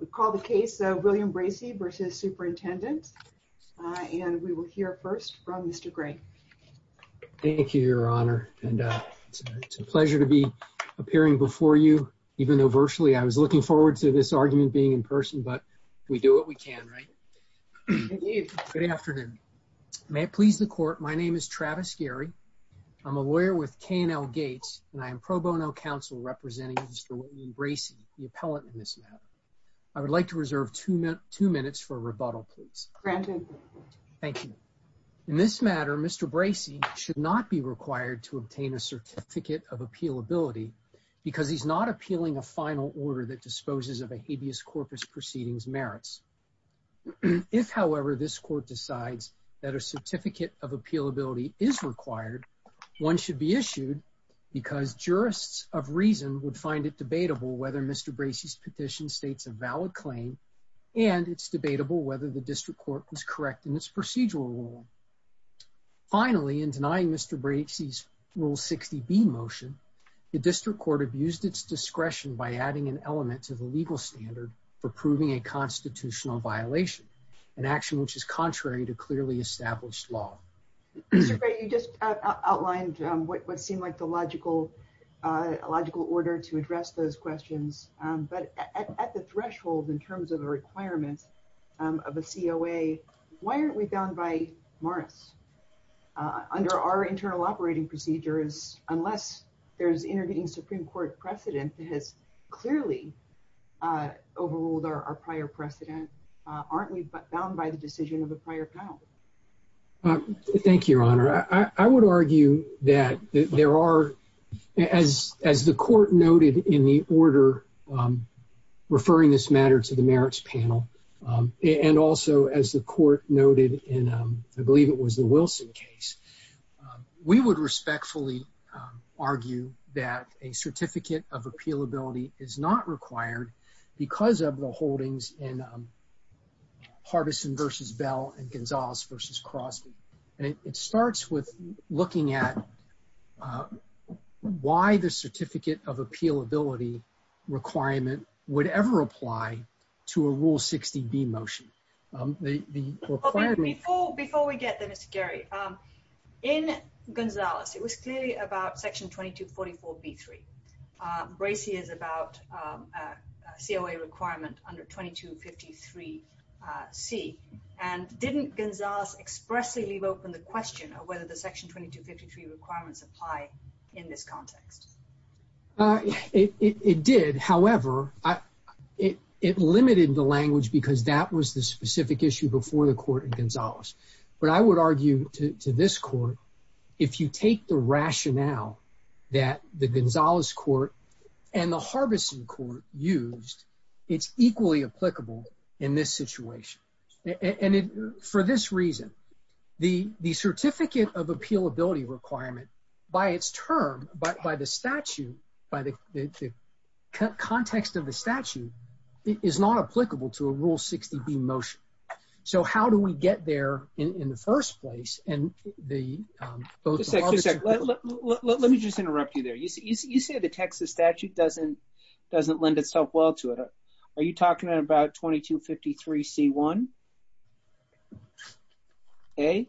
We call the case of William Bracey v. Superintendent and we will hear first from Mr. Gray. Thank you, Your Honor, and it's a pleasure to be appearing before you, even though virtually I was looking forward to this argument being in person, but we do what we can, right? Good afternoon. May it please the court. My name is Travis Gary. I'm a lawyer with KNL Gates, and I am pro bono counsel representing Mr. Bracey, the appellate in this matter. I would like to reserve two minutes for rebuttal, please. Granted. Thank you. In this matter, Mr. Bracey should not be required to obtain a certificate of appealability because he's not appealing a final order that disposes of a habeas corpus proceedings merits. If, however, this court decides that a certificate of appealability is required, one should be issued because jurists of reason would find it debatable whether Mr. Bracey's petition states a valid claim, and it's debatable whether the district court was correct in its procedural rule. Finally, in denying Mr. Bracey's Rule 60B motion, the district court abused its discretion by adding an element to the legal standard for proving a constitutional violation, an action which is contrary to clearly established law. Mr. Bracey, you just outlined what seemed like the logical order to address those questions, but at the threshold in terms of the requirements of a COA, why aren't we bound by MARIS? Under our internal operating procedures, unless there's intervening Supreme Court precedent that has clearly overruled our prior precedent, aren't we bound by the decision of the prior panel? I would argue that there are, as the court noted in the order referring this matter to the merits panel, and also as the court noted in, I believe it was the Wilson case, we would respectfully argue that a certificate of appealability is not required because of the holdings in Mr. Bracey's Rule 60B. Before we get there, Mr. Gary, in Gonzales, it was clearly about Section 2244B3. Bracey is about a COA requirement under 2253C, and didn't Gonzales expressly leave open the question of whether the Section 2253 requirements apply in this context? It did. However, it limited the language because that was the specific issue before the court in Gonzales. But I would argue to this court, if you take the rationale that the Gonzales court and the Harbison court used, it's equally applicable in this situation. And for this reason, the certificate of appealability requirement, by its term, by the statute, by the context of the statute, is not applicable to a Rule 60B motion. So how do we get there in the first place? Just a second. Let me just interrupt you there. You say the Texas statute doesn't lend itself well to it. Are you talking about 2253C1A?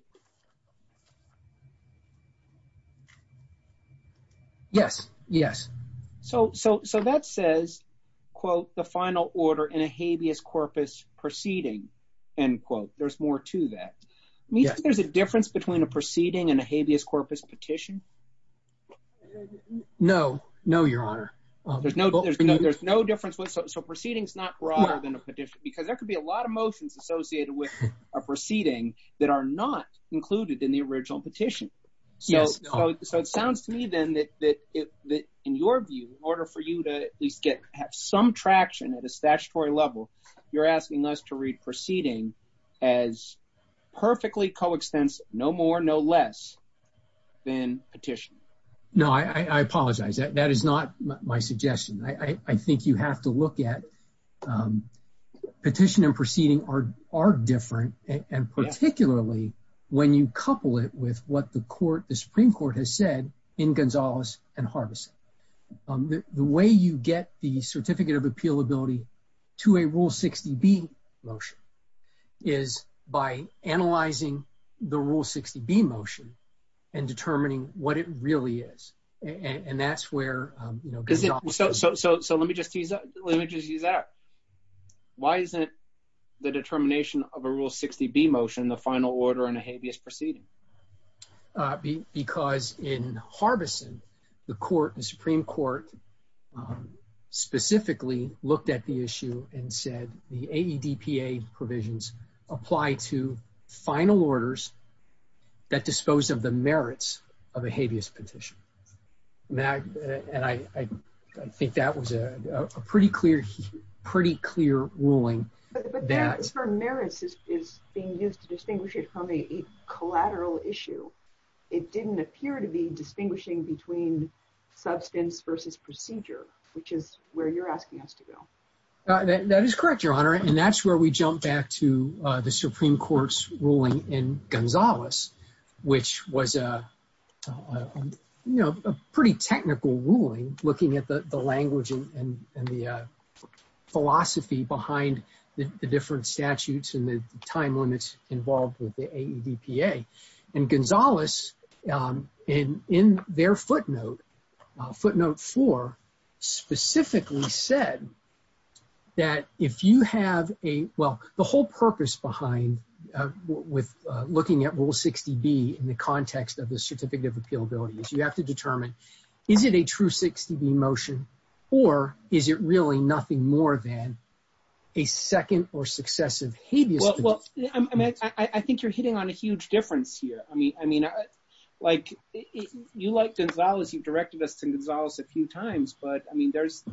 Yes. Yes. So that says, quote, the final order in a habeas corpus proceeding, end quote. There's more to that. Yes. Do you think there's a difference between a proceeding and a habeas corpus petition? No. No, Your Honor. There's no difference. So a proceeding is not broader than a petition because there could be a lot of motions associated with a proceeding that are not included in the original petition. Yes. So it sounds to me, then, that in your view, in order for you to at least have some traction at a statutory level, you're asking us to read proceeding as perfectly coextensive, no more, no less than petition. No, I apologize. That is not my suggestion. I think you have to look at petition and proceeding are different, and particularly when you couple it with what the Supreme Court has said in Gonzales and Harvison. The way you get the certificate of appealability to a Rule 60B motion is by analyzing the Rule 60B motion and determining what it really is. And that's where Gonzales is. So let me just use that. Why isn't the determination of a Rule 60B motion the final order in a habeas proceeding? Because in Harvison, the Supreme Court specifically looked at the issue and said the AEDPA provisions apply to final orders that dispose of the merits of a habeas petition. And I think that was a pretty clear ruling. But the term merits is being used to distinguish it from a collateral issue. It didn't appear to be distinguishing between substance versus procedure, which is where you're asking us to go. That is correct, Your Honor. And that's where we jump back to the Supreme Court's ruling in Gonzales, which was a pretty technical ruling, looking at the language and the philosophy behind the different statutes and the time limits involved with the AEDPA. And Gonzales, in their footnote, footnote four, specifically said that if you have a – well, the whole purpose behind looking at Rule 60B in the context of the certificate of appealability is you have to determine, is it a true 60B motion or is it really nothing more than a second or successive habeas? Well, I think you're hitting on a huge difference here. I mean, like, you like Gonzales, you've directed us to Gonzales a few times, but, I mean, there's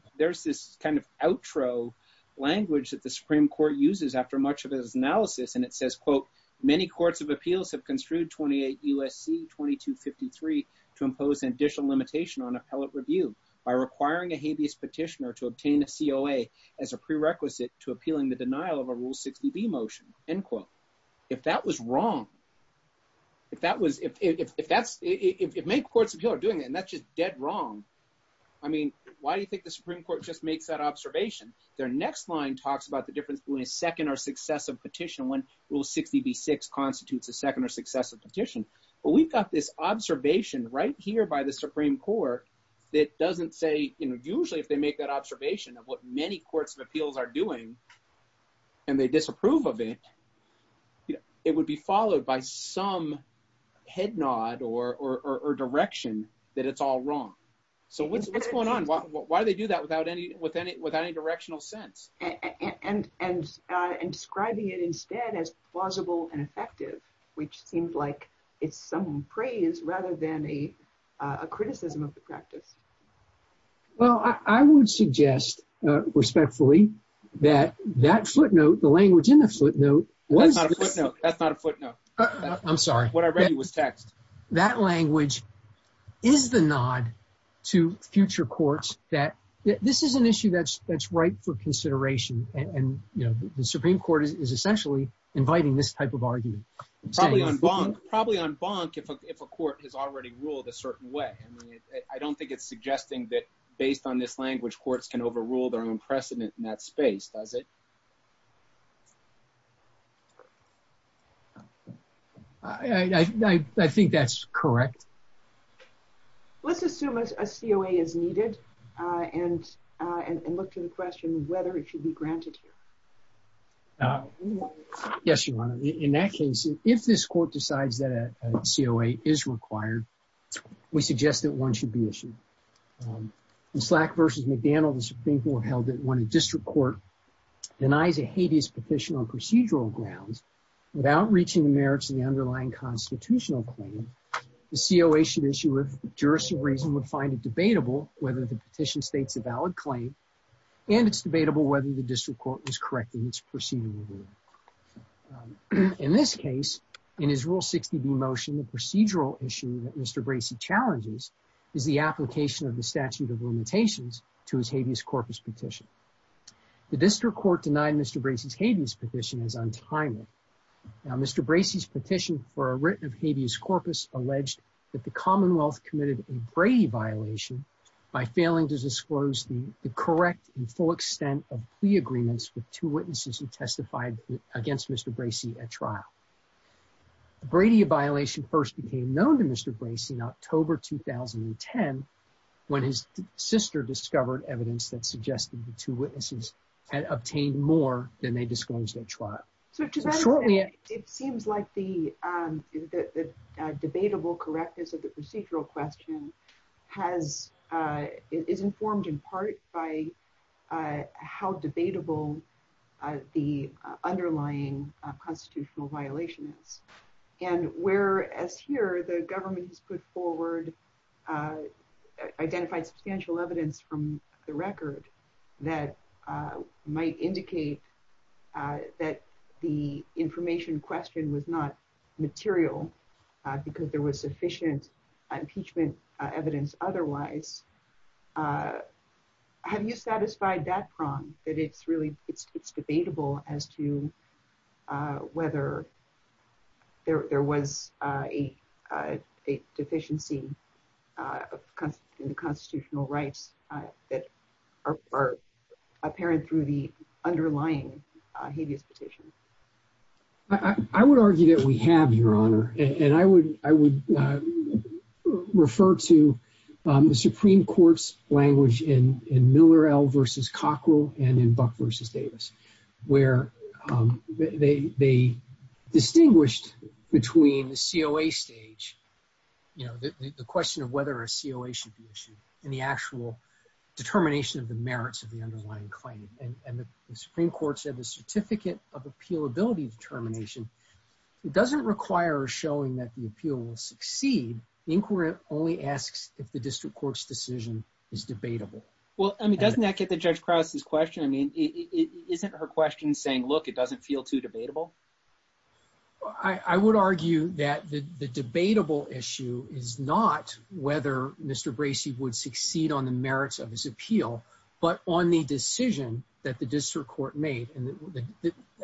this kind of outro language that the Supreme Court uses after much of its analysis. And it says, quote, many courts of appeals have construed 28 U.S.C. 2253 to impose an additional limitation on appellate review by requiring a habeas petitioner to obtain a COA as a prerequisite to appealing the denial of a Rule 60B motion, end quote. If that was wrong, if that was – if that's – if many courts of appeal are doing it and that's just dead wrong, I mean, why do you think the Supreme Court just makes that observation? Their next line talks about the difference between a second or successive petition when Rule 60B-6 constitutes a second or successive petition. But we've got this observation right here by the Supreme Court that doesn't say – usually if they make that observation of what many courts of appeals are doing and they disapprove of it, it would be followed by some head nod or direction that it's all wrong. So what's going on? Why do they do that without any directional sense? And describing it instead as plausible and effective, which seems like it's some praise rather than a criticism of the practice. Well, I would suggest respectfully that that footnote, the language in the footnote was – That's not a footnote. That's not a footnote. I'm sorry. What I read was text. That language is the nod to future courts that this is an issue that's ripe for consideration. And the Supreme Court is essentially inviting this type of argument. Probably en banc if a court has already ruled a certain way. I mean, I don't think it's suggesting that based on this language, courts can overrule their own precedent in that space, does it? I think that's correct. Let's assume a COA is needed and look to the question whether it should be granted here. Yes, Your Honor. In that case, if this court decides that a COA is required, we suggest that one should be issued. In Slack v. McDaniel, the Supreme Court held that when a district court denies a habeas petition on procedural grounds, without reaching the merits of the underlying constitutional claim, the COA should issue if the jurist of reason would find it debatable whether the petition states a valid claim and it's debatable whether the district court is correcting its proceeding. In this case, in his Rule 60b motion, the procedural issue that Mr. Bracey challenges is the application of the statute of limitations to his habeas corpus petition. The district court denied Mr. Bracey's habeas petition as untimely. Now, Mr. Bracey's petition for a writ of habeas corpus alleged that the Commonwealth committed a Brady violation by failing to disclose the correct and full extent of plea agreements with two witnesses who testified against Mr. Bracey at trial. The Brady violation first became known to Mr. Bracey in October 2010 when his sister discovered evidence that suggested the two witnesses had obtained more than they disclosed at trial. So to that effect, it seems like the debatable correctness of the procedural question is informed in part by how debatable the underlying constitutional violation is. And whereas here, the government has put forward, identified substantial evidence from the record that might indicate that the information questioned was not material because there was sufficient impeachment evidence otherwise, have you satisfied that prong, that it's debatable as to whether there was a deficiency in the constitutional rights that are apparent through the underlying habeas petition? I would argue that we have, Your Honor. And I would refer to the Supreme Court's language in Miller L versus Cockrell and in Buck versus Davis where they distinguished between the COA stage, the question of whether a COA should be issued and the actual determination of the merits of the underlying claim. And the Supreme Court said the certificate of appealability determination doesn't require showing that the appeal will succeed. The inquiry only asks if the district court's decision is debatable. Well, I mean, doesn't that get the Judge Krause's question? I mean, isn't her question saying, look, it doesn't feel too debatable? I would argue that the debatable issue is not whether Mr. Bracey would succeed on the merits of his appeal, but on the decision that the district court made. And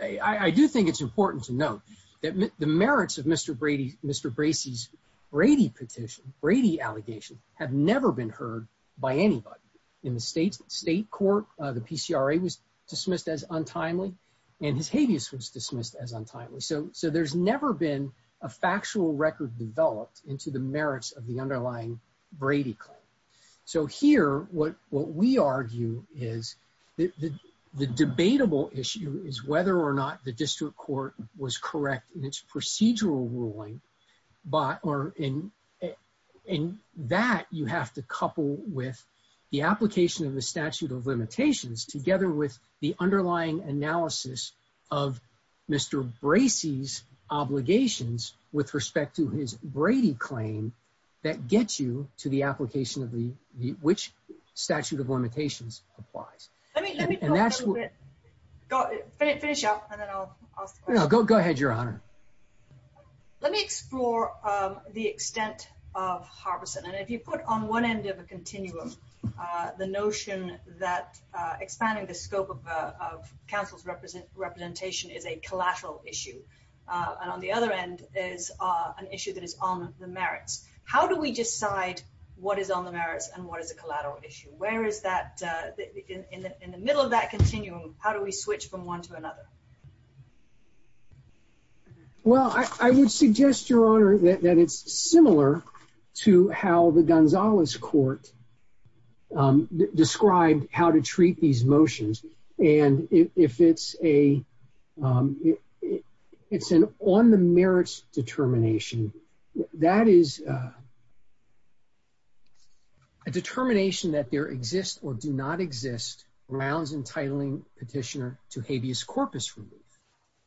I do think it's important to note that the merits of Mr. Bracey's Brady petition, Brady allegations, have never been heard by anybody in the state court. The PCRA was dismissed as untimely and his habeas was dismissed as untimely. So there's never been a factual record developed into the merits of the underlying Brady claim. So here, what we argue is that the debatable issue is whether or not the district court was correct in its procedural ruling. But in that, you have to couple with the application of the statute of limitations together with the underlying analysis of Mr. Bracey with respect to his Brady claim that gets you to the application of which statute of limitations applies. Let me finish up and then I'll go. Go ahead, Your Honor. Let me explore the extent of Harbison. And if you put on one end of a continuum, the notion that expanding the scope of council's representation is a collateral issue. And on the other end is an issue that is on the merits. How do we decide what is on the merits and what is a collateral issue? Where is that in the middle of that continuum? How do we switch from one to another? Well, I would suggest, Your Honor, that it's similar to how the Gonzalez court described how to treat these motions. And if it's an on the merits determination, that is a determination that there exists or do not exist grounds entitling petitioner to habeas corpus relief.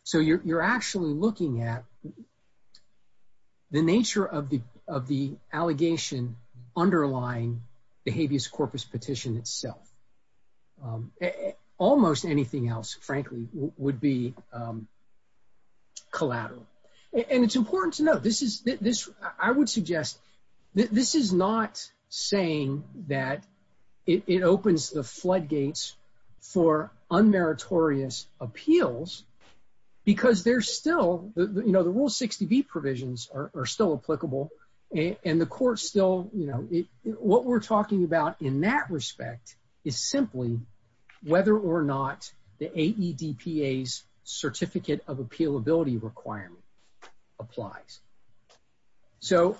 So you're actually looking at the nature of the of the allegation underlying the habeas corpus petition itself. Almost anything else, frankly, would be collateral. And it's important to know this is this. I would suggest this is not saying that it opens the floodgates for unmeritorious appeals because they're still, you know, the rule 60B provisions are still applicable. And the court still, you know, what we're talking about in that respect is simply whether or not the AEDPA's certificate of appeal ability requirement applies. So,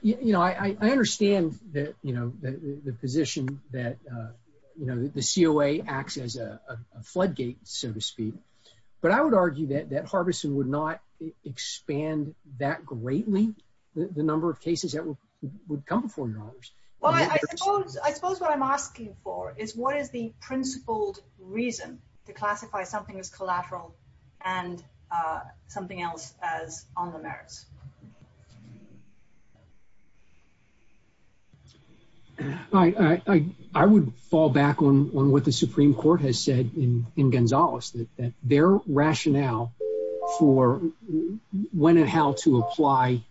you know, I understand that, you know, the position that, you know, the COA acts as a floodgate, so to speak. But I would argue that that Harbison would not expand that greatly. The number of cases that would come before you. Well, I suppose what I'm asking for is what is the principled reason to classify something as collateral and something else as on the merits? All right. I would fall back on what the Supreme Court has said in Gonzales that their rationale for when and how to apply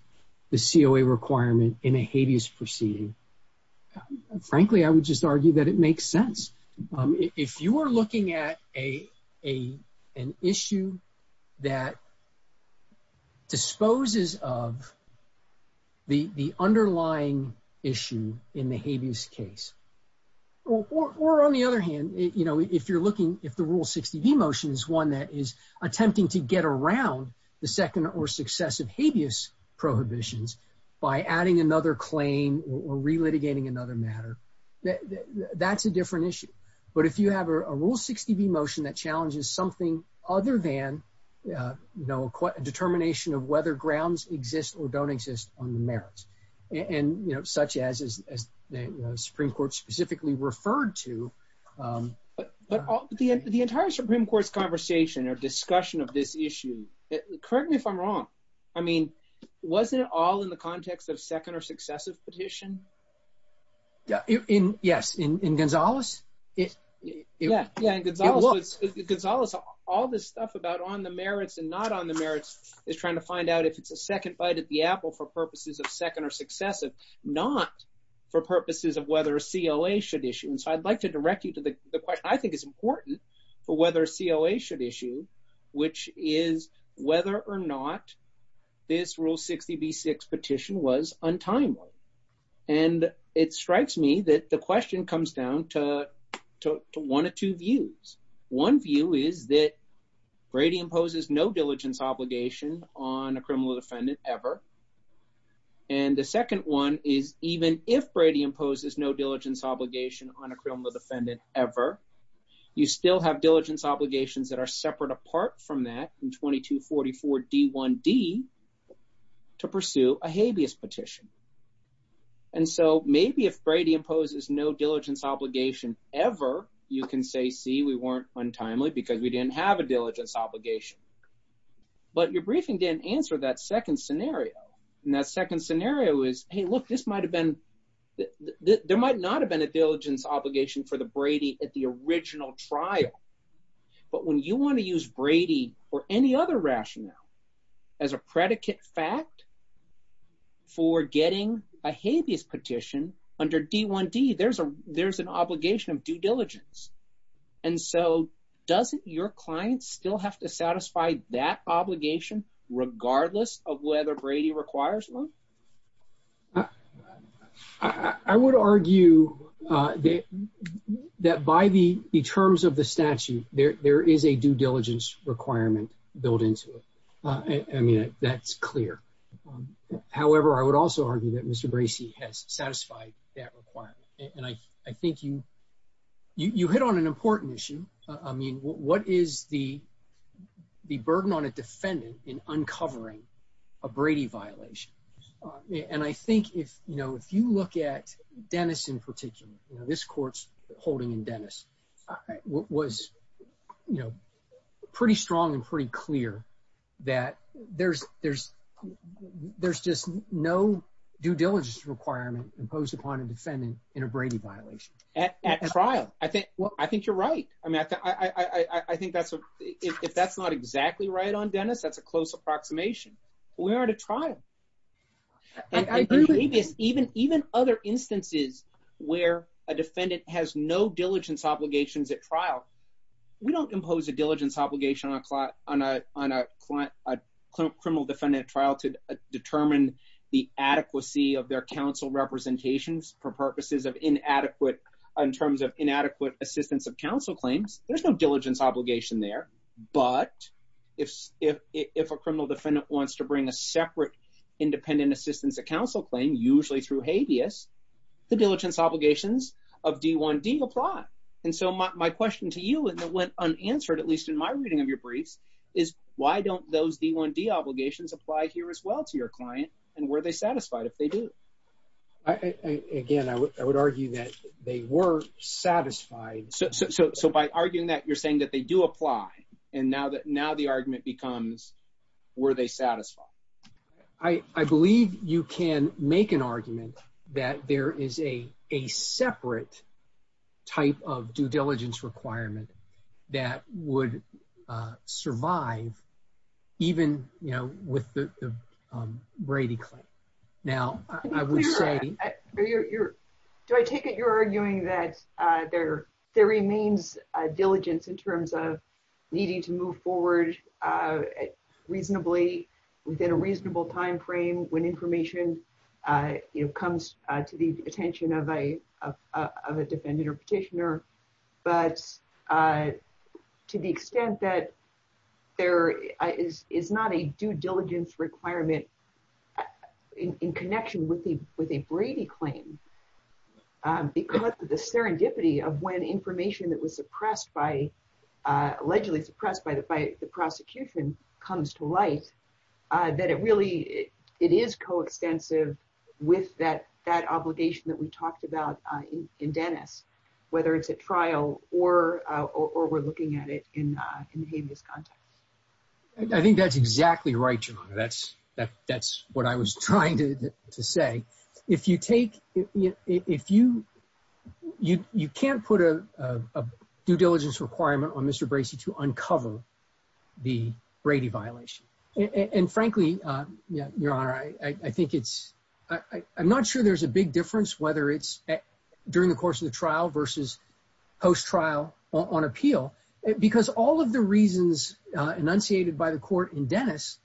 the COA requirement in a habeas proceeding. Frankly, I would just argue that it makes sense. If you are looking at an issue that disposes of the underlying issue in the habeas case, or on the other hand, you know, if you're looking if the rule 60B motion is one that is attempting to get around the second or successive habeas prohibitions by adding another claim or relitigating another matter. That's a different issue. But if you have a rule 60B motion that challenges something other than, you know, a determination of whether grounds exist or don't exist on the merits. And, you know, such as the Supreme Court specifically referred to. But the entire Supreme Court's conversation or discussion of this issue. Correct me if I'm wrong. I mean, wasn't it all in the context of second or successive petition? Yeah. Yes. In Gonzales. Yeah. Yeah. Gonzales. All this stuff about on the merits and not on the merits is trying to find out if it's a second bite at the apple for purposes of second or successive, not for purposes of whether COA should issue. And so I'd like to direct you to the question I think is important for whether COA should issue, which is whether or not this rule 60B6 petition was untimely. And it strikes me that the question comes down to one of two views. One view is that Brady imposes no diligence obligation on a criminal defendant ever. And the second one is even if Brady imposes no diligence obligation on a criminal defendant ever, you still have diligence obligations that are separate apart from that in 2244 D1D to pursue a habeas petition. And so maybe if Brady imposes no diligence obligation ever, you can say, see, we weren't untimely because we didn't have a diligence obligation. But your briefing didn't answer that second scenario. And that second scenario is, hey, look, this might have been – there might not have been a diligence obligation for the Brady at the original trial. But when you want to use Brady or any other rationale as a predicate fact for getting a habeas petition under D1D, there's an obligation of due diligence. And so doesn't your client still have to satisfy that obligation regardless of whether Brady requires one? I would argue that by the terms of the statute, there is a due diligence requirement built into it. I mean, that's clear. However, I would also argue that Mr. Bracey has satisfied that requirement. And I think you hit on an important issue. I mean, what is the burden on a defendant in uncovering a Brady violation? And I think if you look at Dennis in particular, this court's holding in Dennis was pretty strong and pretty clear that there's just no due diligence requirement imposed upon a defendant in a Brady violation. At trial. I think you're right. I mean, I think that's – if that's not exactly right on Dennis, that's a close approximation. We are at a trial. I agree with you. Even other instances where a defendant has no diligence obligations at trial, we don't impose a diligence obligation on a criminal defendant at trial to determine the adequacy of their counsel representations for purposes of inadequate – in terms of inadequate assistance of counsel claims. There's no diligence obligation there. But if a criminal defendant wants to bring a separate independent assistance of counsel claim, usually through habeas, the diligence obligations of D1D apply. And so my question to you, and it went unanswered, at least in my reading of your briefs, is why don't those D1D obligations apply here as well to your client? And were they satisfied if they do? Again, I would argue that they were satisfied. So by arguing that, you're saying that they do apply, and now the argument becomes were they satisfied? I believe you can make an argument that there is a separate type of due diligence requirement that would survive even with the Brady claim. Do I take it you're arguing that there remains a diligence in terms of needing to move forward reasonably within a reasonable timeframe when information comes to the attention of a defendant or petitioner, but to the extent that there is not a due diligence requirement in connection with a Brady claim because of the serendipity of when information that was suppressed by – allegedly suppressed by the prosecution comes to light, that it really – it is coextensive with that obligation that we talked about in Dennis, whether it's at trial or we're looking at it in the habeas context. I think that's exactly right, Joanna. That's what I was trying to say. You can't put a due diligence requirement on Mr. Bracey to uncover the Brady violation. And frankly, Your Honor, I think it's – I'm not sure there's a big difference whether it's during the course of the trial versus post-trial on appeal, because all of the reasons enunciated by the court in Dennis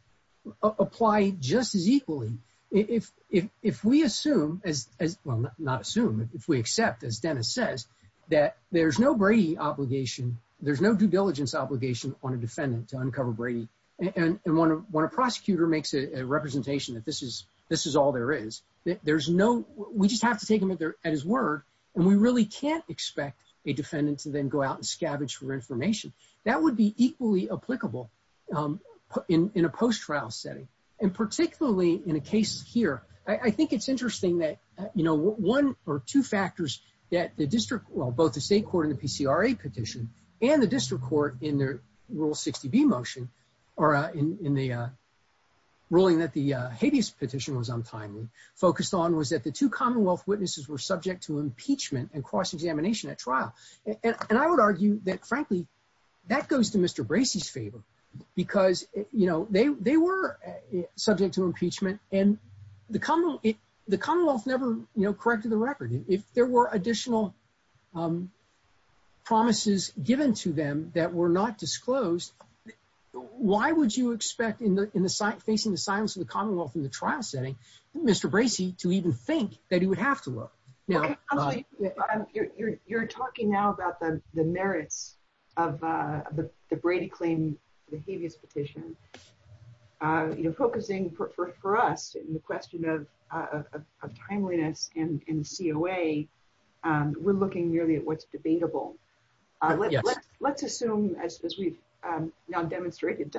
apply just as equally. If we assume – well, not assume, but if we accept, as Dennis says, that there's no Brady obligation, there's no due diligence obligation on a defendant to uncover Brady, and when a prosecutor makes a representation that this is all there is, there's no – we just have to take him at his word, and we really can't expect a defendant to then go out and scavenge for information. That would be equally applicable in a post-trial setting, and particularly in a case here. I think it's interesting that one or two factors that the district – well, both the state court in the PCRA petition and the district court in their Rule 60B motion, or in the ruling that the habeas petition was untimely, focused on was that the two Commonwealth witnesses were subject to impeachment and cross-examination at trial. And I would argue that, frankly, that goes to Mr. Bracey's favor, because they were subject to impeachment, and the Commonwealth never corrected the record. If there were additional promises given to them that were not disclosed, why would you expect, facing the silence of the Commonwealth in the trial setting, Mr. Bracey to even think that he would have to look? Counsel, you're talking now about the merits of the Brady claim, the habeas petition. Focusing for us in the question of timeliness in the COA, we're looking merely at what's debatable. Let's assume, as we've now demonstrated,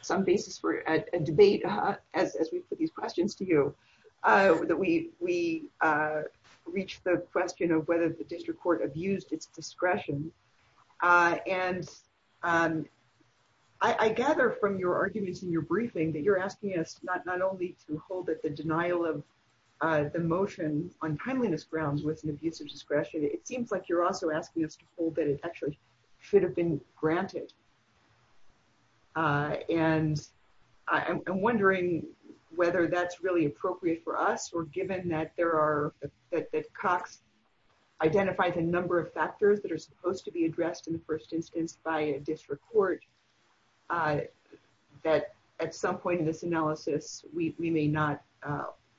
some basis for a debate, as we put these questions to you, that we reach the question of whether the district court abused its discretion. And I gather from your arguments in your briefing that you're asking us not only to hold that the denial of the motion on timeliness grounds was an abusive discretion, it seems like you're also asking us to hold that it actually should have been granted. And I'm wondering whether that's really appropriate for us, or given that Cox identified a number of factors that are supposed to be addressed in the first instance by a district court, that at some point in this analysis, we may not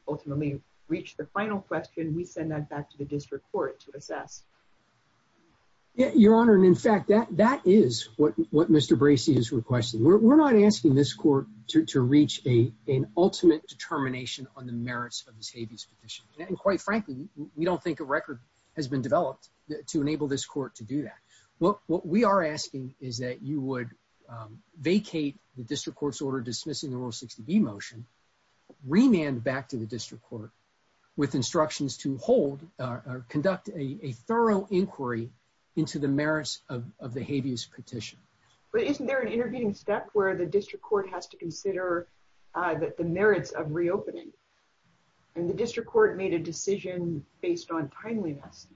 ultimately reach the final question. We send that back to the district court to assess. Your Honor, and in fact, that is what Mr. Bracey is requesting. We're not asking this court to reach an ultimate determination on the merits of this habeas petition. And quite frankly, we don't think a record has been developed to enable this court to do that. What we are asking is that you would vacate the district court's order dismissing the Rule 60B motion, remand back to the district court with instructions to hold or conduct a thorough inquiry into the merits of the habeas petition. But isn't there an intervening step where the district court has to consider the merits of reopening? And the district court made a decision based on timeliness,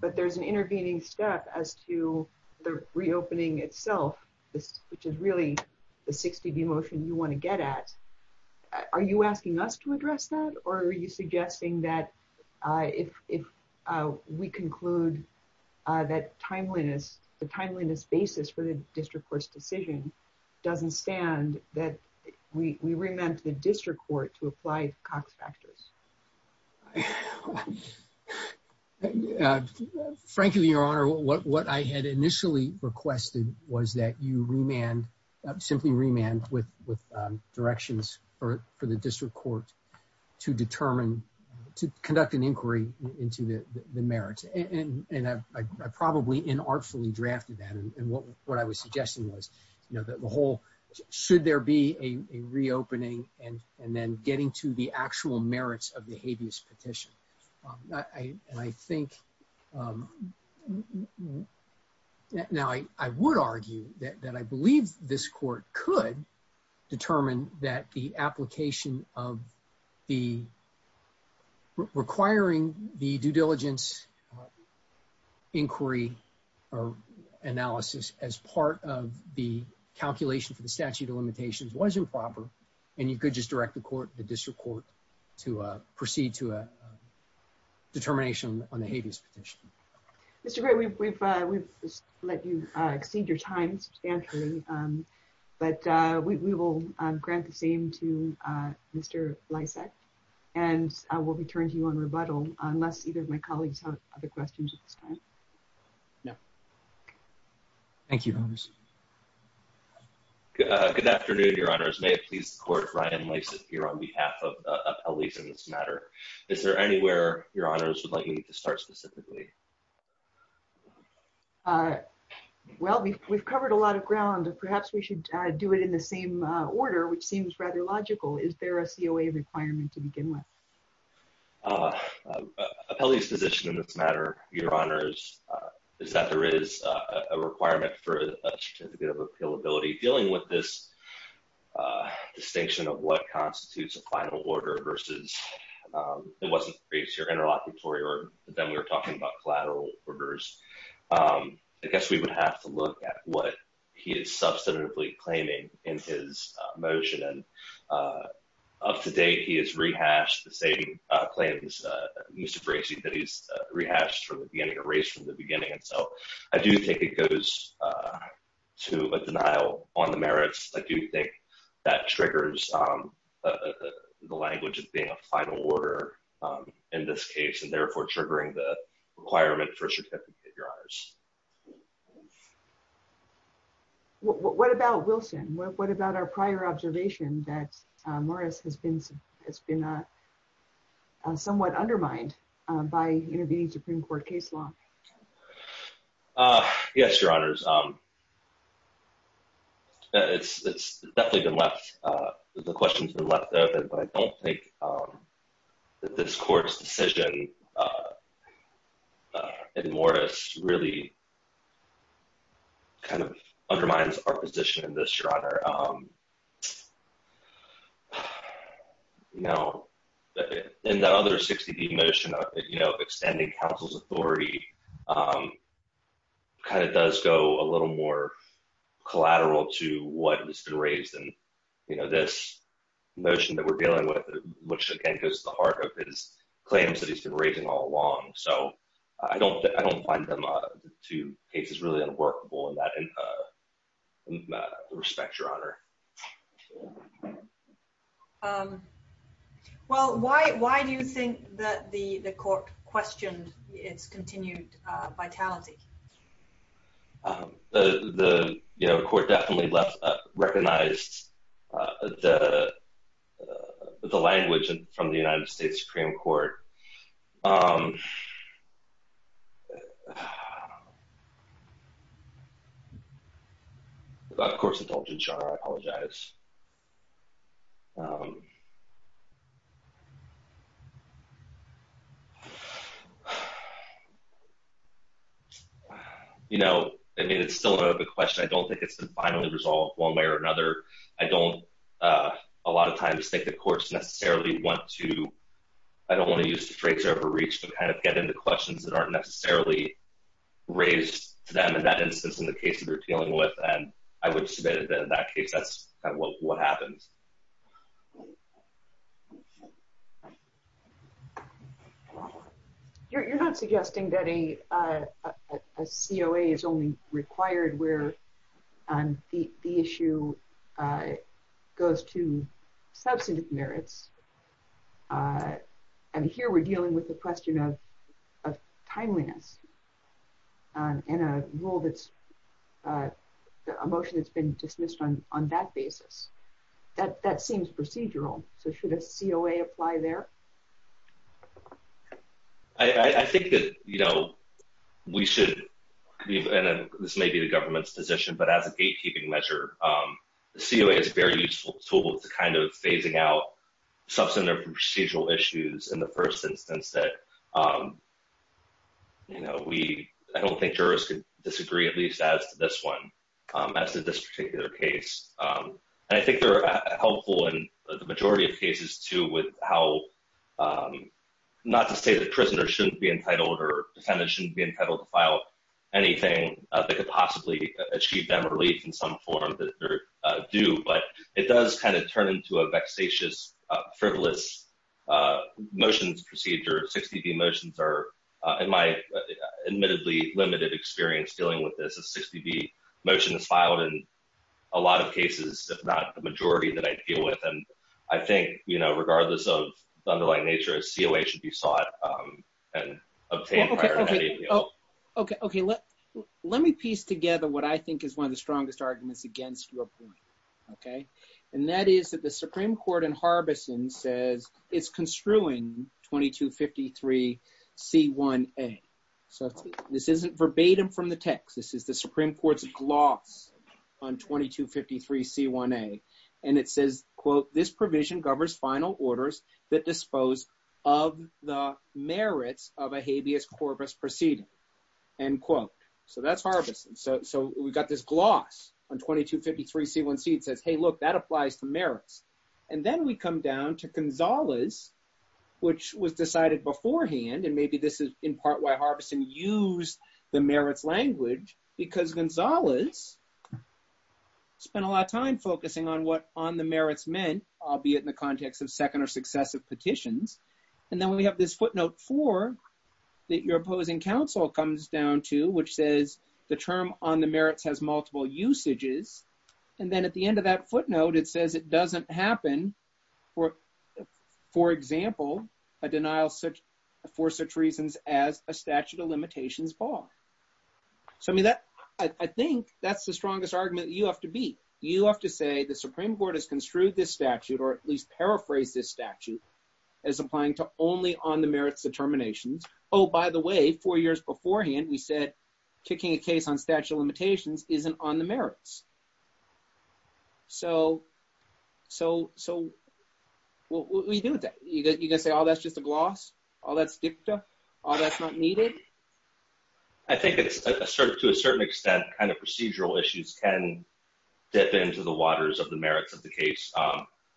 but there's an intervening step as to the reopening itself, which is really the 60B motion you want to get at. Are you asking us to address that? Or are you suggesting that if we conclude that timeliness, the timeliness basis for the district court's decision doesn't stand, that we remand to the district court to apply Cox factors? Frankly, Your Honor, what I had initially requested was that you remand, simply remand with directions for the district court to determine, to conduct an inquiry into the merits. And I probably inartfully drafted that. And what I was suggesting was, you know, that the whole, should there be a reopening and then getting to the actual merits of the habeas petition. And I think now I would argue that I believe this court could determine that the application of the requiring the due diligence inquiry or analysis as part of the calculation for the statute of limitations was improper. And you could just direct the court, the district court to proceed to a determination on the habeas petition. Mr. Gray, we've let you exceed your time substantially, but we will grant the same to Mr. Lysak, and I will return to you on rebuttal unless either of my colleagues have other questions at this time. Thank you, Your Honor. Good afternoon, Your Honors. May it please the court, Ryan Lysak here on behalf of Appellees in this matter. Is there anywhere Your Honors would like me to start specifically? Well, we've covered a lot of ground. Perhaps we should do it in the same order, which seems rather logical. Is there a COA requirement to begin with? Appellee's position in this matter, Your Honors, is that there is a requirement for a certificate of appealability. I guess we would have to look at what he is substantively claiming in his motion. Up to date, he has rehashed the same claims, Mr. Bracey, that he's rehashed from the beginning, erased from the beginning. I do think it goes to a denial on the merits. I do think that triggers the language of being a final order in this case, and therefore triggering the requirement for a certificate, Your Honors. What about Wilson? What about our prior observation that Morris has been somewhat undermined by intervening Supreme Court case law? Yes, Your Honors. It's definitely been left—the question's been left open, but I don't think that this court's decision in Morris really kind of undermines our position in this, Your Honor. And that other 60-D motion of extending counsel's authority kind of does go a little more collateral to what has been raised in this motion that we're dealing with, which again goes to the heart of his claims that he's been raising all along. So I don't find the two cases really unworkable in that respect, Your Honor. Well, why do you think that the court questioned its continued vitality? The court definitely recognized the language from the United States Supreme Court. Of course, indulgence, Your Honor. I apologize. You know, I mean, it's still another question. I don't think it's been finally resolved one way or another. I don't, a lot of times, think the courts necessarily want to—I don't want to use the phrase overreach to kind of get into questions that aren't necessarily raised to them in that instance in the case that we're dealing with. And I would submit that in that case, that's kind of what happens. You're not suggesting that a COA is only required where the issue goes to substantive merits, and here we're dealing with the question of timeliness in a rule that's—a motion that's been dismissed on that basis. That seems procedural. So should a COA apply there? I think that, you know, we should—and this may be the government's position, but as a gatekeeping measure, the COA is a very useful tool to kind of phasing out substantive procedural issues in the first instance that, you know, we—I don't think jurors could disagree at least as to this one, as to this particular case. And I think they're helpful in the majority of cases, too, with how—not to say that prisoners shouldn't be entitled or defendants shouldn't be entitled to file anything that could possibly achieve them relief in some form that they're due, but it does kind of turn into a vexatious, frivolous motions procedure. In my admittedly limited experience dealing with this, a 60B motion is filed in a lot of cases, if not the majority, that I deal with. And I think, you know, regardless of the underlying nature, a COA should be sought and obtained prior to that APO. Oh, okay. Let me piece together what I think is one of the strongest arguments against your point, okay? And that is that the Supreme Court in Harbison says it's construing 2253c1a. So this isn't verbatim from the text. This is the Supreme Court's gloss on 2253c1a. And it says, quote, this provision governs final orders that dispose of the merits of a habeas corpus proceeding, end quote. So that's Harbison. So we've got this gloss on 2253c1c. It says, hey, look, that applies to merits. And then we come down to Gonzales, which was decided beforehand, and maybe this is in part why Harbison used the merits language, because Gonzales spent a lot of time focusing on what on the merits meant, albeit in the context of second or successive petitions. And then we have this footnote four that your opposing counsel comes down to, which says the term on the merits has multiple usages. And then at the end of that footnote, it says it doesn't happen for, for example, a denial for such reasons as a statute of limitations bar. So I mean, that, I think that's the strongest argument you have to be. You have to say the Supreme Court has construed this statute, or at least paraphrase this statute, as applying to only on the merits determinations. Oh, by the way, four years beforehand, we said, kicking a case on statute of limitations isn't on the merits. So what do you do with that? You're going to say, oh, that's just a gloss? Oh, that's dicta? Oh, that's not needed? I think it's sort of, to a certain extent, kind of procedural issues can dip into the waters of the merits of the case.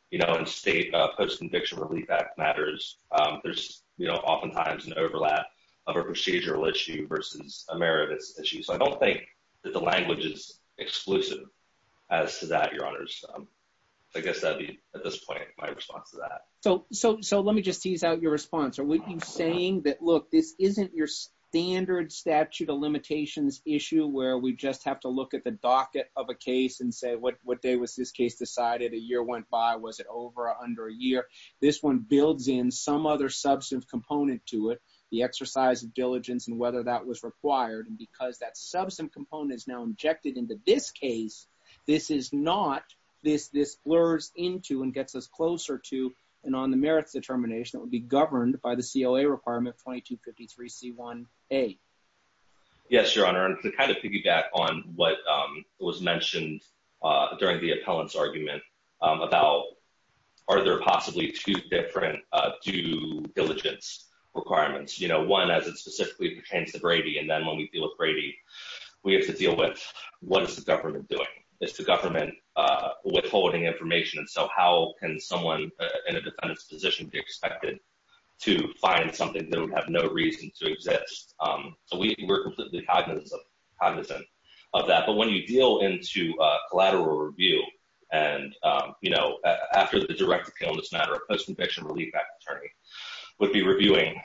You know, in state post-conviction relief act matters, there's oftentimes an overlap of a procedural issue versus a merits issue. So I don't think that the language is exclusive as to that, your honors. I guess that'd be, at this point, my response to that. So let me just tease out your response. Are we saying that, look, this isn't your standard statute of limitations issue where we just have to look at the docket of a case and say, what day was this case decided? A year went by. Was it over or under a year? This one builds in some other substantive component to it, the exercise of diligence and whether that was required. And because that substantive component is now injected into this case, this is not, this blurs into and gets us closer to an on the merits determination that would be governed by the COA requirement 2253C1A. Yes, your honor. And to kind of piggyback on what was mentioned during the appellant's argument about, are there possibly two different due diligence requirements? You know, one as it specifically pertains to Brady. And then when we deal with Brady, we have to deal with what is the government doing? Is the government withholding information? And so how can someone in a defendant's position be expected to find something that would have no reason to exist? So we're completely cognizant of that. But when you deal into a collateral review and, you know, after the direct appeal in this matter, a post-conviction relief act attorney would be reviewing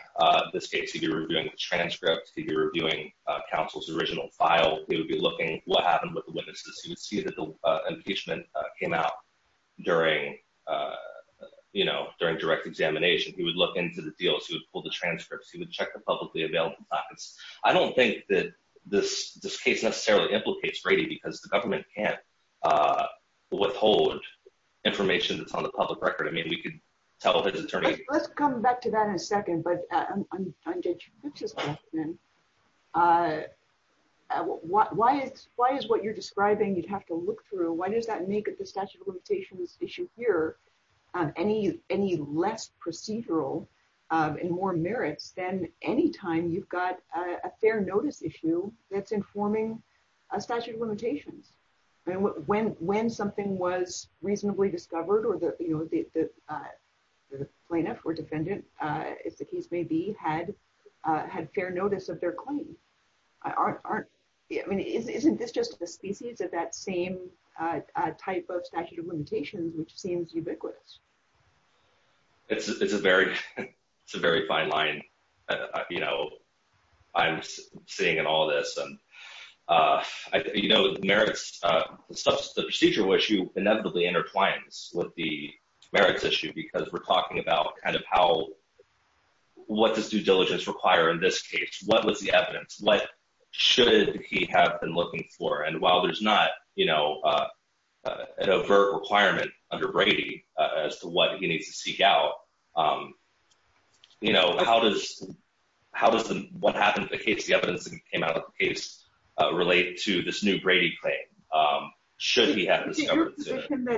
this case. He'd be reviewing the transcripts. He'd be reviewing counsel's original file. He would be looking at what happened with the witnesses. He would see that the impeachment came out during, you know, during direct examination. He would look into the deals. He would pull the transcripts. He would check the publicly available documents. I don't think that this case necessarily implicates Brady because the government can't withhold information that's on the public record. I mean, we could tell his attorney. Let's come back to that in a second. But on Judge Rips' question, why is what you're describing you'd have to look through? Why does that make the statute of limitations issue here any less procedural and more merits than any time you've got a fair notice issue that's informing a statute of limitations? I mean, when something was reasonably discovered or the plaintiff or defendant, as the case may be, had fair notice of their claim, isn't this just a species of that same type of statute of limitations, which seems ubiquitous? It's a very fine line, you know, I'm seeing in all this. And, you know, merits, the procedural issue inevitably intertwines with the merits issue because we're talking about kind of how, what does due diligence require in this case? What was the evidence? What should he have been looking for? And while there's not, you know, an overt requirement under Brady as to what he needs to seek out, you know, how does what happened in the case, the evidence that came out of the case, relate to this new Brady claim? Should he have discovered it sooner? I don't want to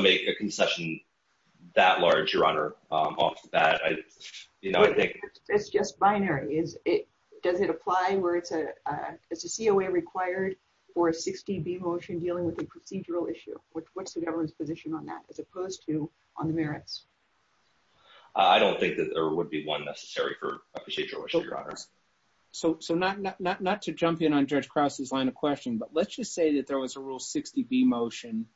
make a concession that large, Your Honor. It's just binary. Is it, does it apply where it's a, it's a COA required for a 60B motion dealing with a procedural issue? What's the government's position on that as opposed to on the merits? I don't think that there would be one necessary for procedural issue, Your Honor. So, so not, not, not to jump in on Judge Krause's line of question, but let's just say that there was a rule 60B motion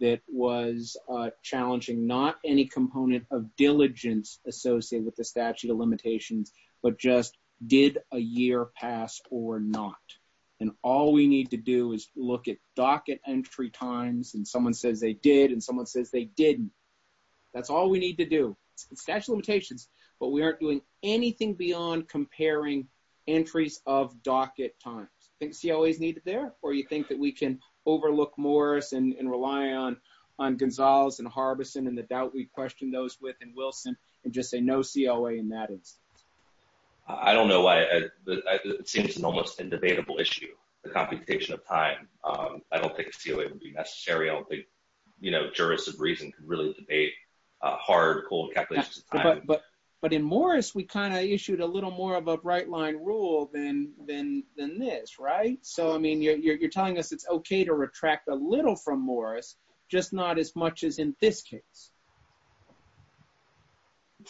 that was challenging, not any component of diligence associated with the statute of limitations, but just did a year pass or not. And all we need to do is look at docket entry times. And someone says they did. And someone says they didn't. That's all we need to do. It's statute of limitations, but we aren't doing anything beyond comparing entries of docket times. Think COA is needed there? Or you think that we can overlook Morris and rely on, on Gonzalez and Harbison and the doubt we've questioned those with and Wilson and just say no COA in that instance? I don't know why it seems an almost indebatable issue, the computation of time. I don't think COA would be necessary. I don't think, you know, jurists of reason could really debate hard, cold calculations of time. But, but, but in Morris, we kind of issued a little more of a bright line rule than, than, than this, right? So, I mean, you're, you're, you're telling us it's okay to retract a little from Morris, just not as much as in this case.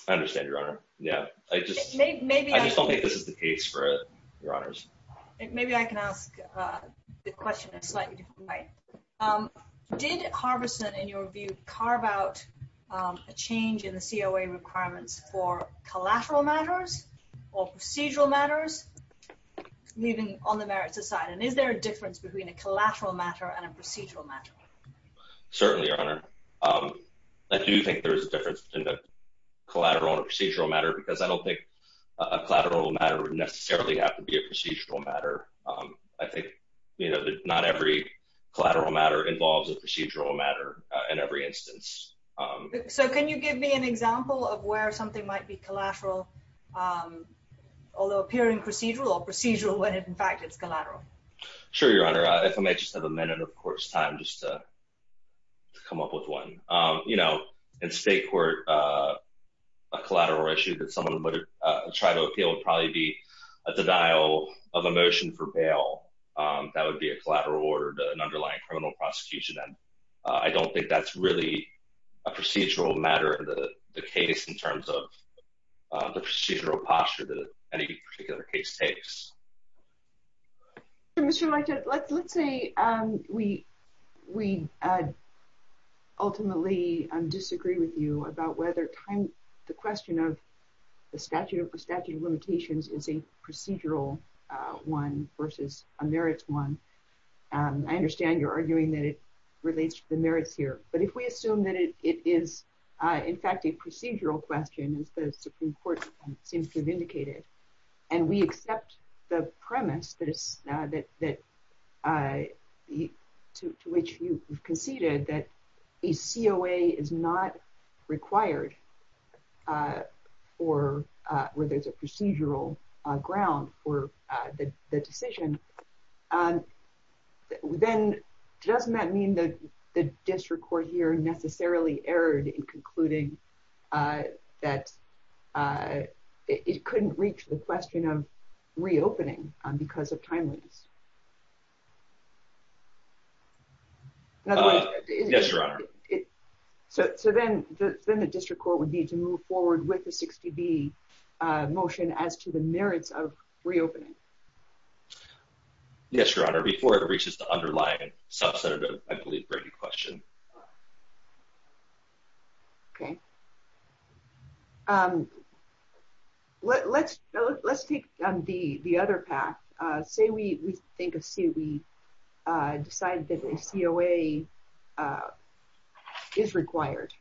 I understand your honor. Yeah, I just, I just don't think this is the case for your honors. Maybe I can ask the question in a slightly different way. Did Harbison, in your view, carve out a change in the COA requirements for collateral matters or procedural matters, leaving all the merits aside? And is there a difference between a collateral matter and a procedural matter? Certainly, your honor. I do think there is a difference between a collateral and a procedural matter, because I don't think a collateral matter would necessarily have to be a procedural matter. I think, you know, not every collateral matter involves a procedural matter in every instance. So can you give me an example of where something might be collateral, although appearing procedural or procedural when in fact it's collateral? Sure, your honor. If I may just have a minute of court's time just to come up with one. You know, in state court, a collateral issue that someone would try to appeal would probably be a denial of a motion for bail. That would be a collateral order to an underlying criminal prosecution. And I don't think that's really a procedural matter of the case in terms of the procedural posture that any particular case takes. Mr. Leitch, let's say we ultimately disagree with you about whether the question of the statute of limitations is a procedural one versus a merits one. I understand you're arguing that it relates to the merits here. But if we assume that it is, in fact, a procedural question, as the Supreme Court seems to have indicated, and we accept the premise to which you conceded that a COA is not required, or where there's a procedural ground for the decision, then doesn't that mean that the district court here necessarily erred in concluding that it couldn't reach the question of reopening because of timeliness? Yes, your honor. So then the district court would need to move forward with the 60B motion as to the merits of reopening. Yes, your honor. Before it reaches the underlying substantive, I believe, breaking question. Okay. Let's take the other path. Say we decide that a COA is required.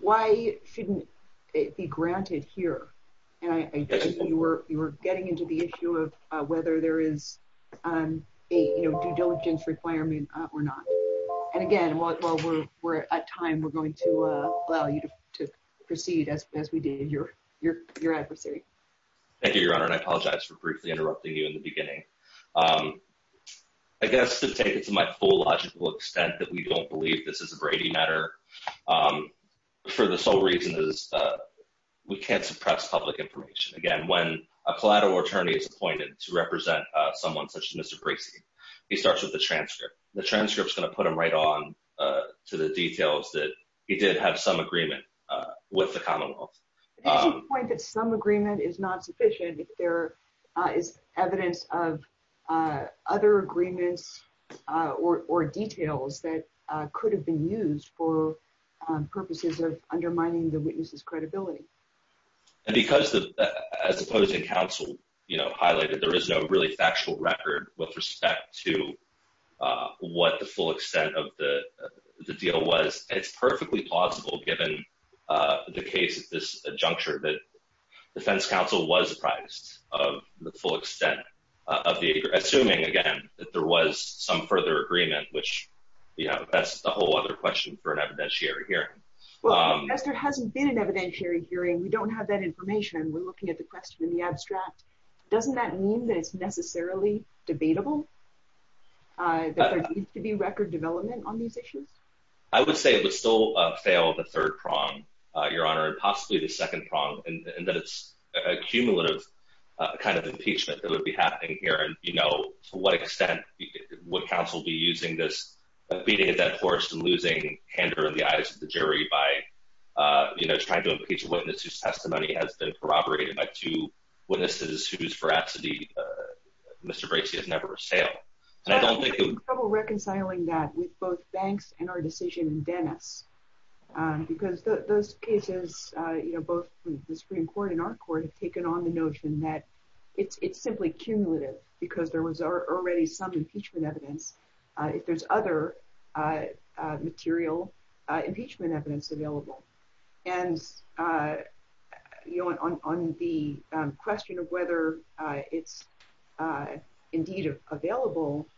Why shouldn't it be granted here? You were getting into the issue of whether there is a due diligence requirement or not. And again, while we're at time, we're going to allow you to proceed as we did in your adversary. Thank you, your honor, and I apologize for briefly interrupting you in the beginning. I guess to take it to my full logical extent that we don't believe this is a Brady matter for the sole reason that we can't suppress public information. Again, when a collateral attorney is appointed to represent someone such as Mr. Bracey, he starts with the transcript. The transcript is going to put him right on to the details that he did have some agreement with the commonwealth. Did you point that some agreement is not sufficient if there is evidence of other agreements or details that could have been used for purposes of undermining the witness's credibility? And because, as opposing counsel highlighted, there is no really factual record with respect to what the full extent of the deal was. It's perfectly plausible, given the case at this juncture, that defense counsel was apprised of the full extent of the agreement, assuming, again, that there was some further agreement, which, you know, that's a whole other question for an evidentiary hearing. Well, as there hasn't been an evidentiary hearing, we don't have that information, and we're looking at the question in the abstract. Doesn't that mean that it's necessarily debatable, that there needs to be record development on these issues? I would say it would still fail the third prong, your honor, and possibly the second prong, in that it's a cumulative kind of impeachment that would be happening here. And, you know, to what extent would counsel be using this, beating a dead horse and losing candor in the eyes of the jury by, you know, trying to impeach a witness whose testimony has been corroborated by two witnesses whose veracity Mr. Bracey has never assailed. I have trouble reconciling that with both Banks and our decision in Dennis, because those cases, you know, both the Supreme Court and our court have taken on the notion that it's simply cumulative, because there was already some impeachment evidence, if there's other material impeachment evidence available. And, you know, on the question of whether it's indeed available,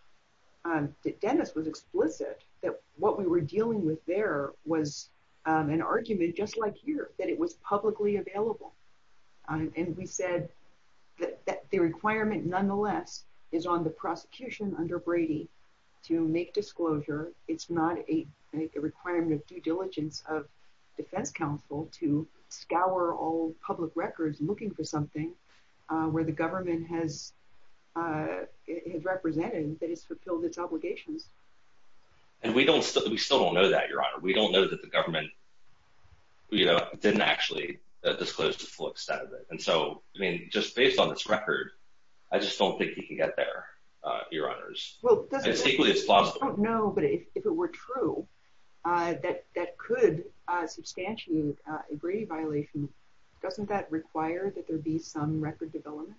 Dennis was explicit that what we were dealing with there was an argument, just like here, that it was publicly available. And we said that the requirement, nonetheless, is on the prosecution under Brady to make disclosure. It's not a requirement of due diligence of defense counsel to scour all public records looking for something where the government has represented that it's fulfilled its obligations. And we still don't know that, Your Honor. We don't know that the government, you know, didn't actually disclose the full extent of it. And so, I mean, just based on this record, I just don't think he can get there, Your Honors. I don't know, but if it were true that that could substantiate a Brady violation, doesn't that require that there be some record development?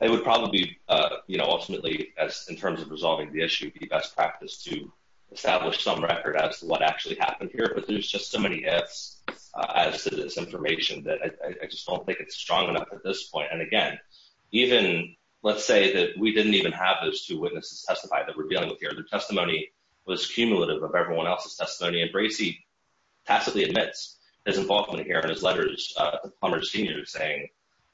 It would probably, you know, ultimately, as in terms of resolving the issue, be best practice to establish some record as to what actually happened here. But there's just so many ifs as to this information that I just don't think it's strong enough at this point. And again, even, let's say that we didn't even have those two witnesses testify that we're dealing with here. Their testimony was cumulative of everyone else's testimony. And Bracey tacitly admits his involvement here in his letters to Plummer Sr. saying,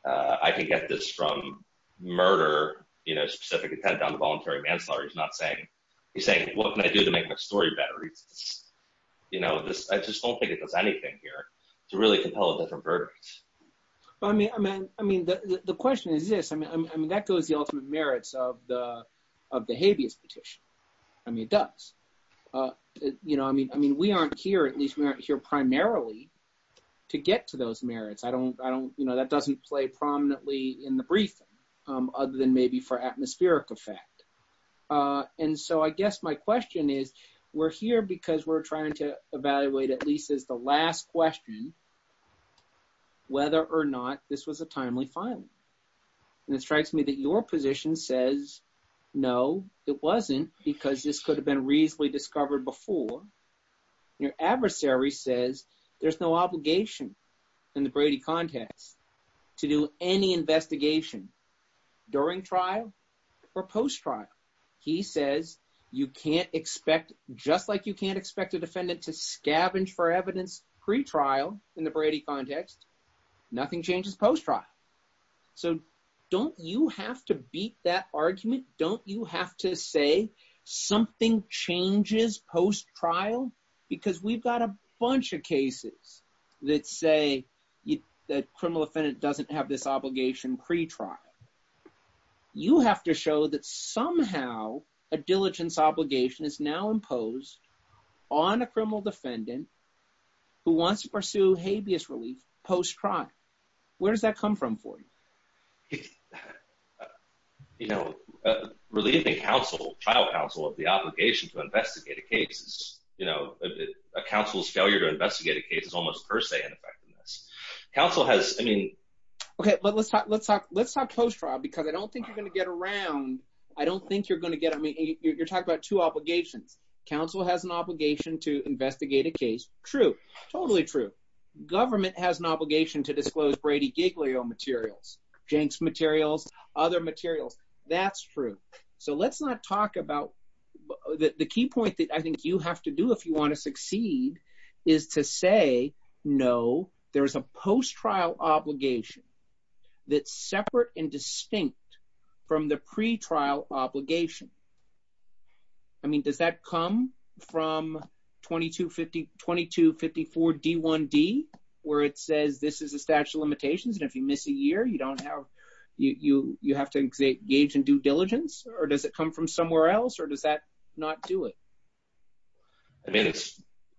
I can get this from murder, you know, specific intent on the voluntary manslaughter. He's not saying, he's saying, what can I do to make my story better? You know, I just don't think it does anything here to really compel a different verdict. I mean, the question is this, I mean, that goes the ultimate merits of the habeas petition. I mean, it does. You know, I mean, we aren't here, at least we aren't here primarily to get to those merits. I don't, you know, that doesn't play prominently in the briefing, other than maybe for atmospheric effect. And so I guess my question is, we're here because we're trying to evaluate at least as the last question, whether or not this was a timely filing. And it strikes me that your position says, no, it wasn't because this could have been reasonably discovered before. Your adversary says there's no obligation in the Brady context to do any investigation during trial or post trial. He says, you can't expect, just like you can't expect a defendant to scavenge for evidence pre-trial in the Brady context, nothing changes post trial. So don't you have to beat that argument? Don't you have to say something changes post trial? Because we've got a bunch of cases that say that criminal defendant doesn't have this obligation pre-trial. You have to show that somehow a diligence obligation is now imposed on a criminal defendant who wants to pursue habeas relief post trial. Where does that come from for you? You know, relieving counsel, trial counsel, of the obligation to investigate a case is, you know, a counsel's failure to investigate a case is almost per se an effect on this. Counsel has, I mean… Let's talk post trial because I don't think you're going to get around, I don't think you're going to get, I mean, you're talking about two obligations. Counsel has an obligation to investigate a case. True. Totally true. Government has an obligation to disclose Brady Giglio materials, Jenks materials, other materials. That's true. So let's not talk about, the key point that I think you have to do if you want to succeed is to say no, there's a post trial obligation that's separate and distinct from the pre-trial obligation. I mean, does that come from 2254 D1D where it says this is a statute of limitations and if you miss a year, you don't have, you have to engage in due diligence or does it come from somewhere else or does that not do it? I mean,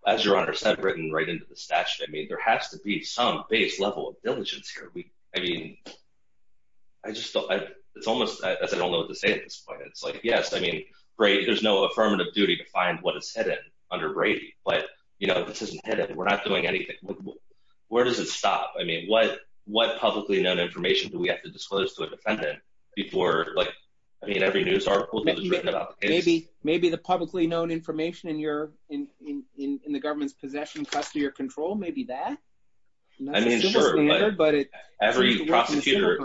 as your Honor said, written right into the statute, I mean, there has to be some base level of diligence here. I mean, I just don't, it's almost, as I don't know what to say at this point, it's like, yes, I mean, there's no affirmative duty to find what is hidden under Brady, but, you know, this isn't hidden. We're not doing anything. Where does it stop? I mean, what publicly known information do we have to disclose to a defendant before, like, I mean, every news article that was written about the case? Maybe the publicly known information in your, in the government's possession, custody or control, maybe that? I mean, sure, but every prosecutor,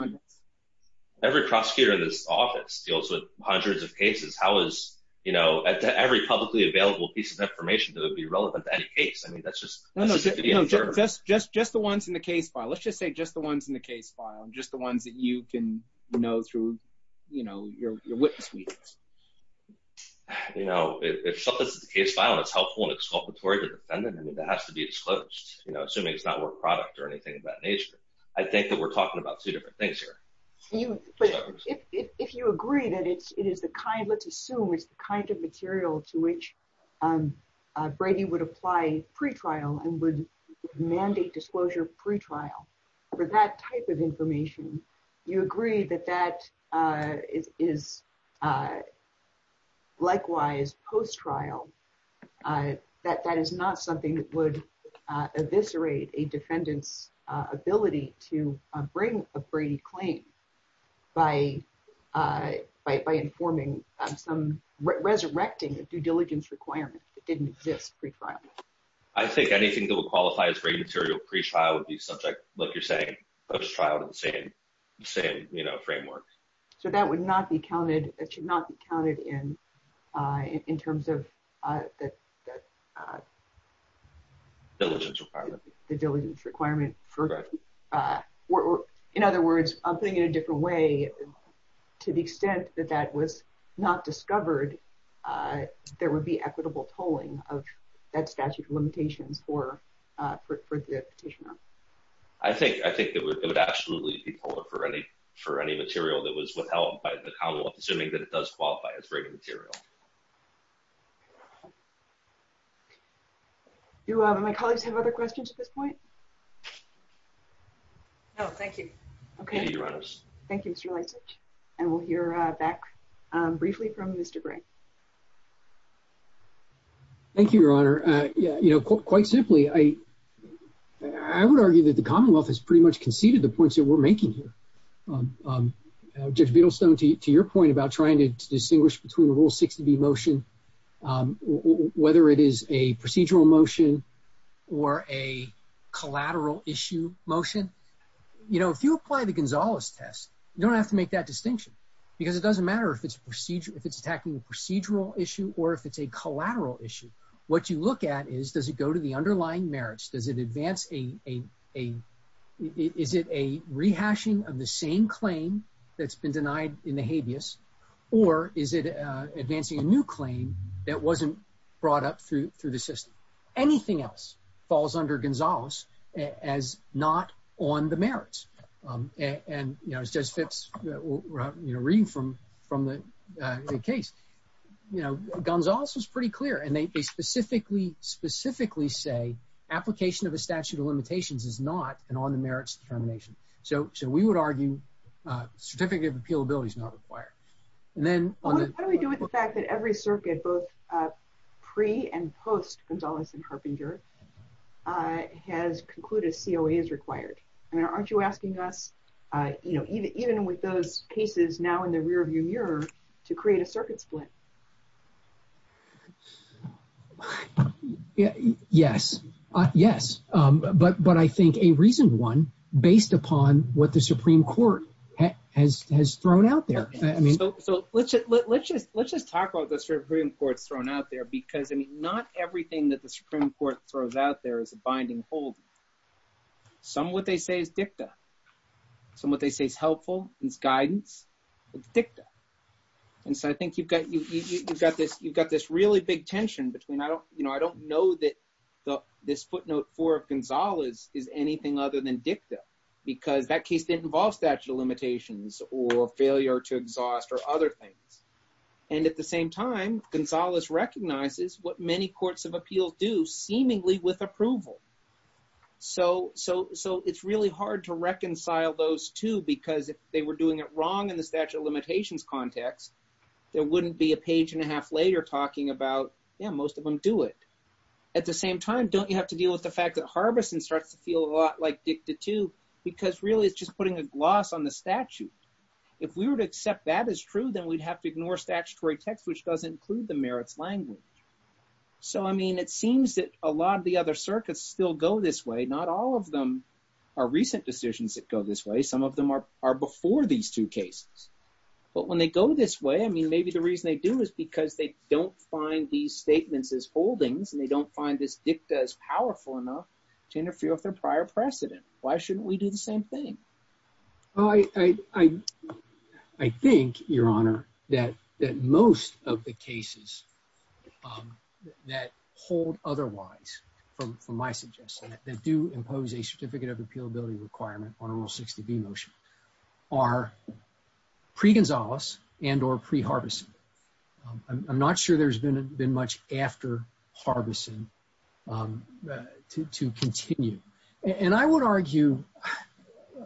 every prosecutor in this office deals with hundreds of cases. How is, you know, every publicly available piece of information that would be relevant to any case? I mean, that's just. No, no, just, just, just the ones in the case file. Let's just say just the ones in the case file and just the ones that you can know through, you know, your witness meetings. You know, if something's in the case file and it's helpful and exculpatory to the defendant, I mean, that has to be disclosed, you know, assuming it's not work product or anything of that nature. I think that we're talking about two different things here. If you agree that it's, it is the kind, let's assume it's the kind of material to which Brady would apply pretrial and would mandate disclosure pretrial for that type of information. You agree that that is likewise post-trial, that that is not something that would eviscerate a defendant's ability to bring a Brady claim by, by informing some, resurrecting a due diligence requirement that didn't exist pretrial. I think anything that would qualify as Brady material pretrial would be subject, like you're saying, post-trial to the same, same, you know, framework. So that would not be counted. It should not be counted in, in terms of the diligence requirement for, in other words, putting it in a different way, to the extent that that was not discovered, there would be equitable tolling of that statute of limitations for the petitioner. I think, I think it would, it would absolutely be toller for any, for any material that was withheld by the Commonwealth, assuming that it does qualify as Brady material. Do my colleagues have other questions at this point? No, thank you. Okay. Thank you, Mr. Leisich. And we'll hear back briefly from Mr. Bray. Thank you, Your Honor. Yeah, you know, quite simply, I, I would argue that the Commonwealth has pretty much conceded the points that we're making here. Judge Beadlestone, to your point about trying to distinguish between a Rule 6 to B motion, whether it is a procedural motion or a collateral issue motion, you know, if you apply the Gonzales test, you don't have to make that distinction. Because it doesn't matter if it's a procedural, if it's attacking a procedural issue, or if it's a collateral issue. What you look at is, does it go to the underlying merits? Does it advance a, a, a, is it a rehashing of the same claim that's been denied in the habeas? Or is it advancing a new claim that wasn't brought up through, through the system? Anything else falls under Gonzales as not on the merits. And, you know, as Judge Fitz, you know, reading from, from the case, you know, Gonzales was pretty clear, and they specifically, specifically say, application of a statute of limitations is not an on the merits determination. So, so we would argue, certificate of appealability is not required. And then. What do we do with the fact that every circuit, both pre and post Gonzales and Harbinger, has concluded COA is required? I mean, aren't you asking us, you know, even, even with those cases now in the rearview mirror, to create a circuit split? Yeah, yes. Yes. But, but I think a reason one, based upon what the Supreme Court has, has thrown out there. I mean, so let's, let's just, let's just talk about the Supreme Court's thrown out there, because I mean, not everything that the Supreme Court throws out there is a binding hold. Some of what they say is dicta. Some of what they say is helpful. It's guidance. It's dicta. And so I think you've got, you've got this, you've got this really big tension between I don't, you know, I don't know that this footnote for Gonzales is anything other than dicta, because that case didn't involve statute of limitations or failure to exhaust or other things. And at the same time, Gonzales recognizes what many courts of appeals do seemingly with approval. So, so, so it's really hard to reconcile those two, because if they were doing it wrong in the statute of limitations context, there wouldn't be a page and a half later talking about, yeah, most of them do it. At the same time, don't you have to deal with the fact that Harbison starts to feel a lot like dicta too, because really it's just putting a gloss on the statute. If we were to accept that as true, then we'd have to ignore statutory text, which doesn't include the merits language. So, I mean, it seems that a lot of the other circuits still go this way. Not all of them are recent decisions that go this way. Some of them are before these two cases. But when they go this way, I mean, maybe the reason they do is because they don't find these statements as holdings and they don't find this dicta as powerful enough to interfere with their prior precedent. Why shouldn't we do the same thing? I think, Your Honor, that most of the cases that hold otherwise, from my suggestion, that do impose a certificate of appealability requirement on a Rule 60B motion are pre-Gonzalez and or pre-Harbison. I'm not sure there's been much after Harbison to continue. And I would argue,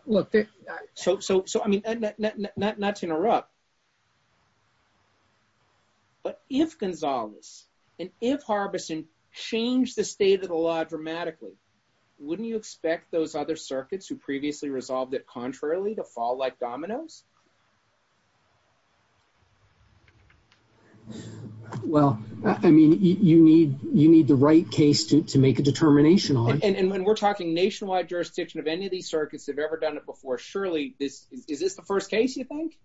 look, so I mean, not to interrupt, but if Gonzalez and if Harbison changed the state of the law dramatically, wouldn't you expect those other circuits who previously resolved it contrarily to fall like dominoes? Well, I mean, you need the right case to make a determination on. And when we're talking nationwide jurisdiction of any of these circuits have ever done it before, surely this is this the first case, you think?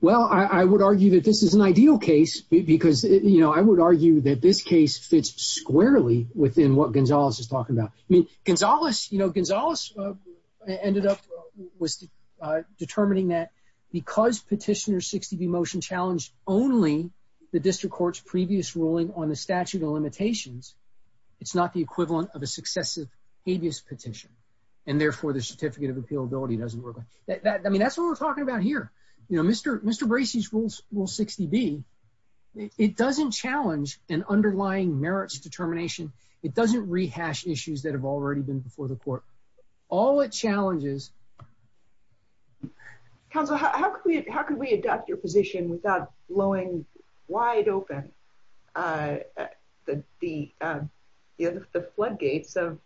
Well, I would argue that this is an ideal case because, you know, I would argue that this case fits squarely within what Gonzalez is talking about. I mean, Gonzalez, you know, Gonzalez ended up determining that because Petitioner 60B motion challenged only the district court's previous ruling on the statute of limitations, it's not the equivalent of a successive habeas petition. And therefore, the certificate of appealability doesn't work. I mean, that's what we're talking about here. You know, Mr. Bracey's Rule 60B, it doesn't challenge an underlying merits determination. It doesn't rehash issues that have already been before the court. All the challenges. Counsel, how can we adopt your position without blowing wide open the floodgates of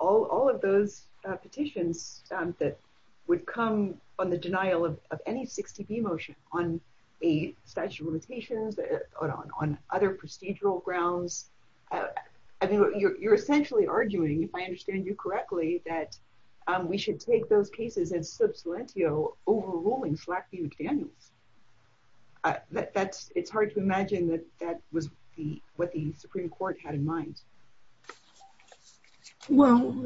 all of those petitions that would come on the denial of any 60B motion on a statute of limitations or on other procedural grounds? I mean, you're essentially arguing, if I understand you correctly, that we should take those cases in sub salientio overruling Slack v. McDaniels. It's hard to imagine that that was what the Supreme Court had in mind. Well,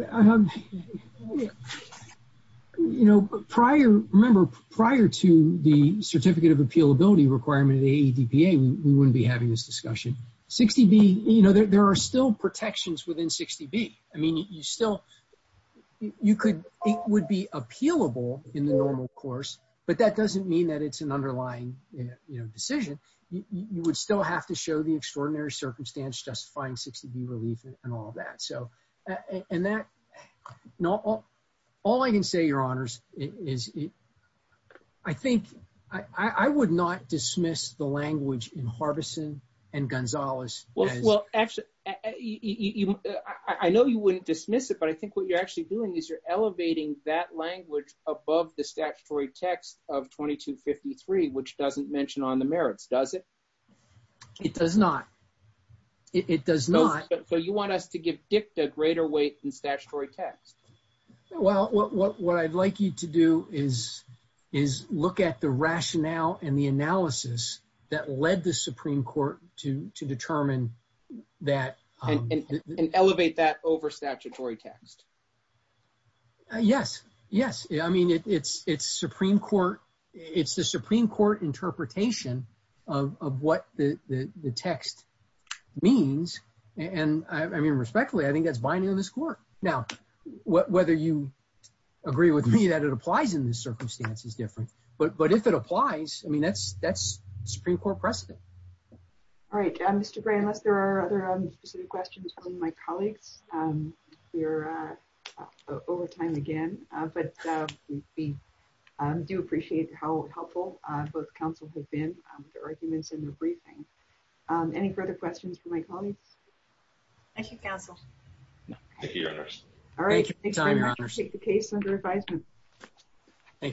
you know, prior, remember, prior to the certificate of appealability requirement of the ADPA, we wouldn't be having this discussion. 60B, you know, there are still protections within 60B. I mean, you still, you could, it would be appealable in the normal course, but that doesn't mean that it's an underlying decision. You would still have to show the extraordinary circumstance justifying 60B relief and all that. So, and that, all I can say, Your Honors, is I think, I would not dismiss the language in Harbison and Gonzales. Well, actually, I know you wouldn't dismiss it, but I think what you're actually doing is you're elevating that language above the statutory text of 2253, which doesn't mention on the merits, does it? It does not. It does not. So you want us to give dicta greater weight than statutory text? Well, what I'd like you to do is look at the rationale and the analysis that led the Supreme Court to determine that. And elevate that over statutory text. Yes, yes. I mean, it's Supreme Court, it's the Supreme Court interpretation of what the text means. And I mean, respectfully, I think that's binding on this Court. Now, whether you agree with me that it applies in this circumstance is different. But if it applies, I mean, that's Supreme Court precedent. All right. Mr. Gray, unless there are other specific questions from my colleagues, we are over time again. But we do appreciate how helpful both counsel have been with their arguments and their briefing. Any further questions from my colleagues? Thank you, counsel. Thank you, Your Honors. Thank you for your time, Your Honors. Take the case under advisement. Thank you.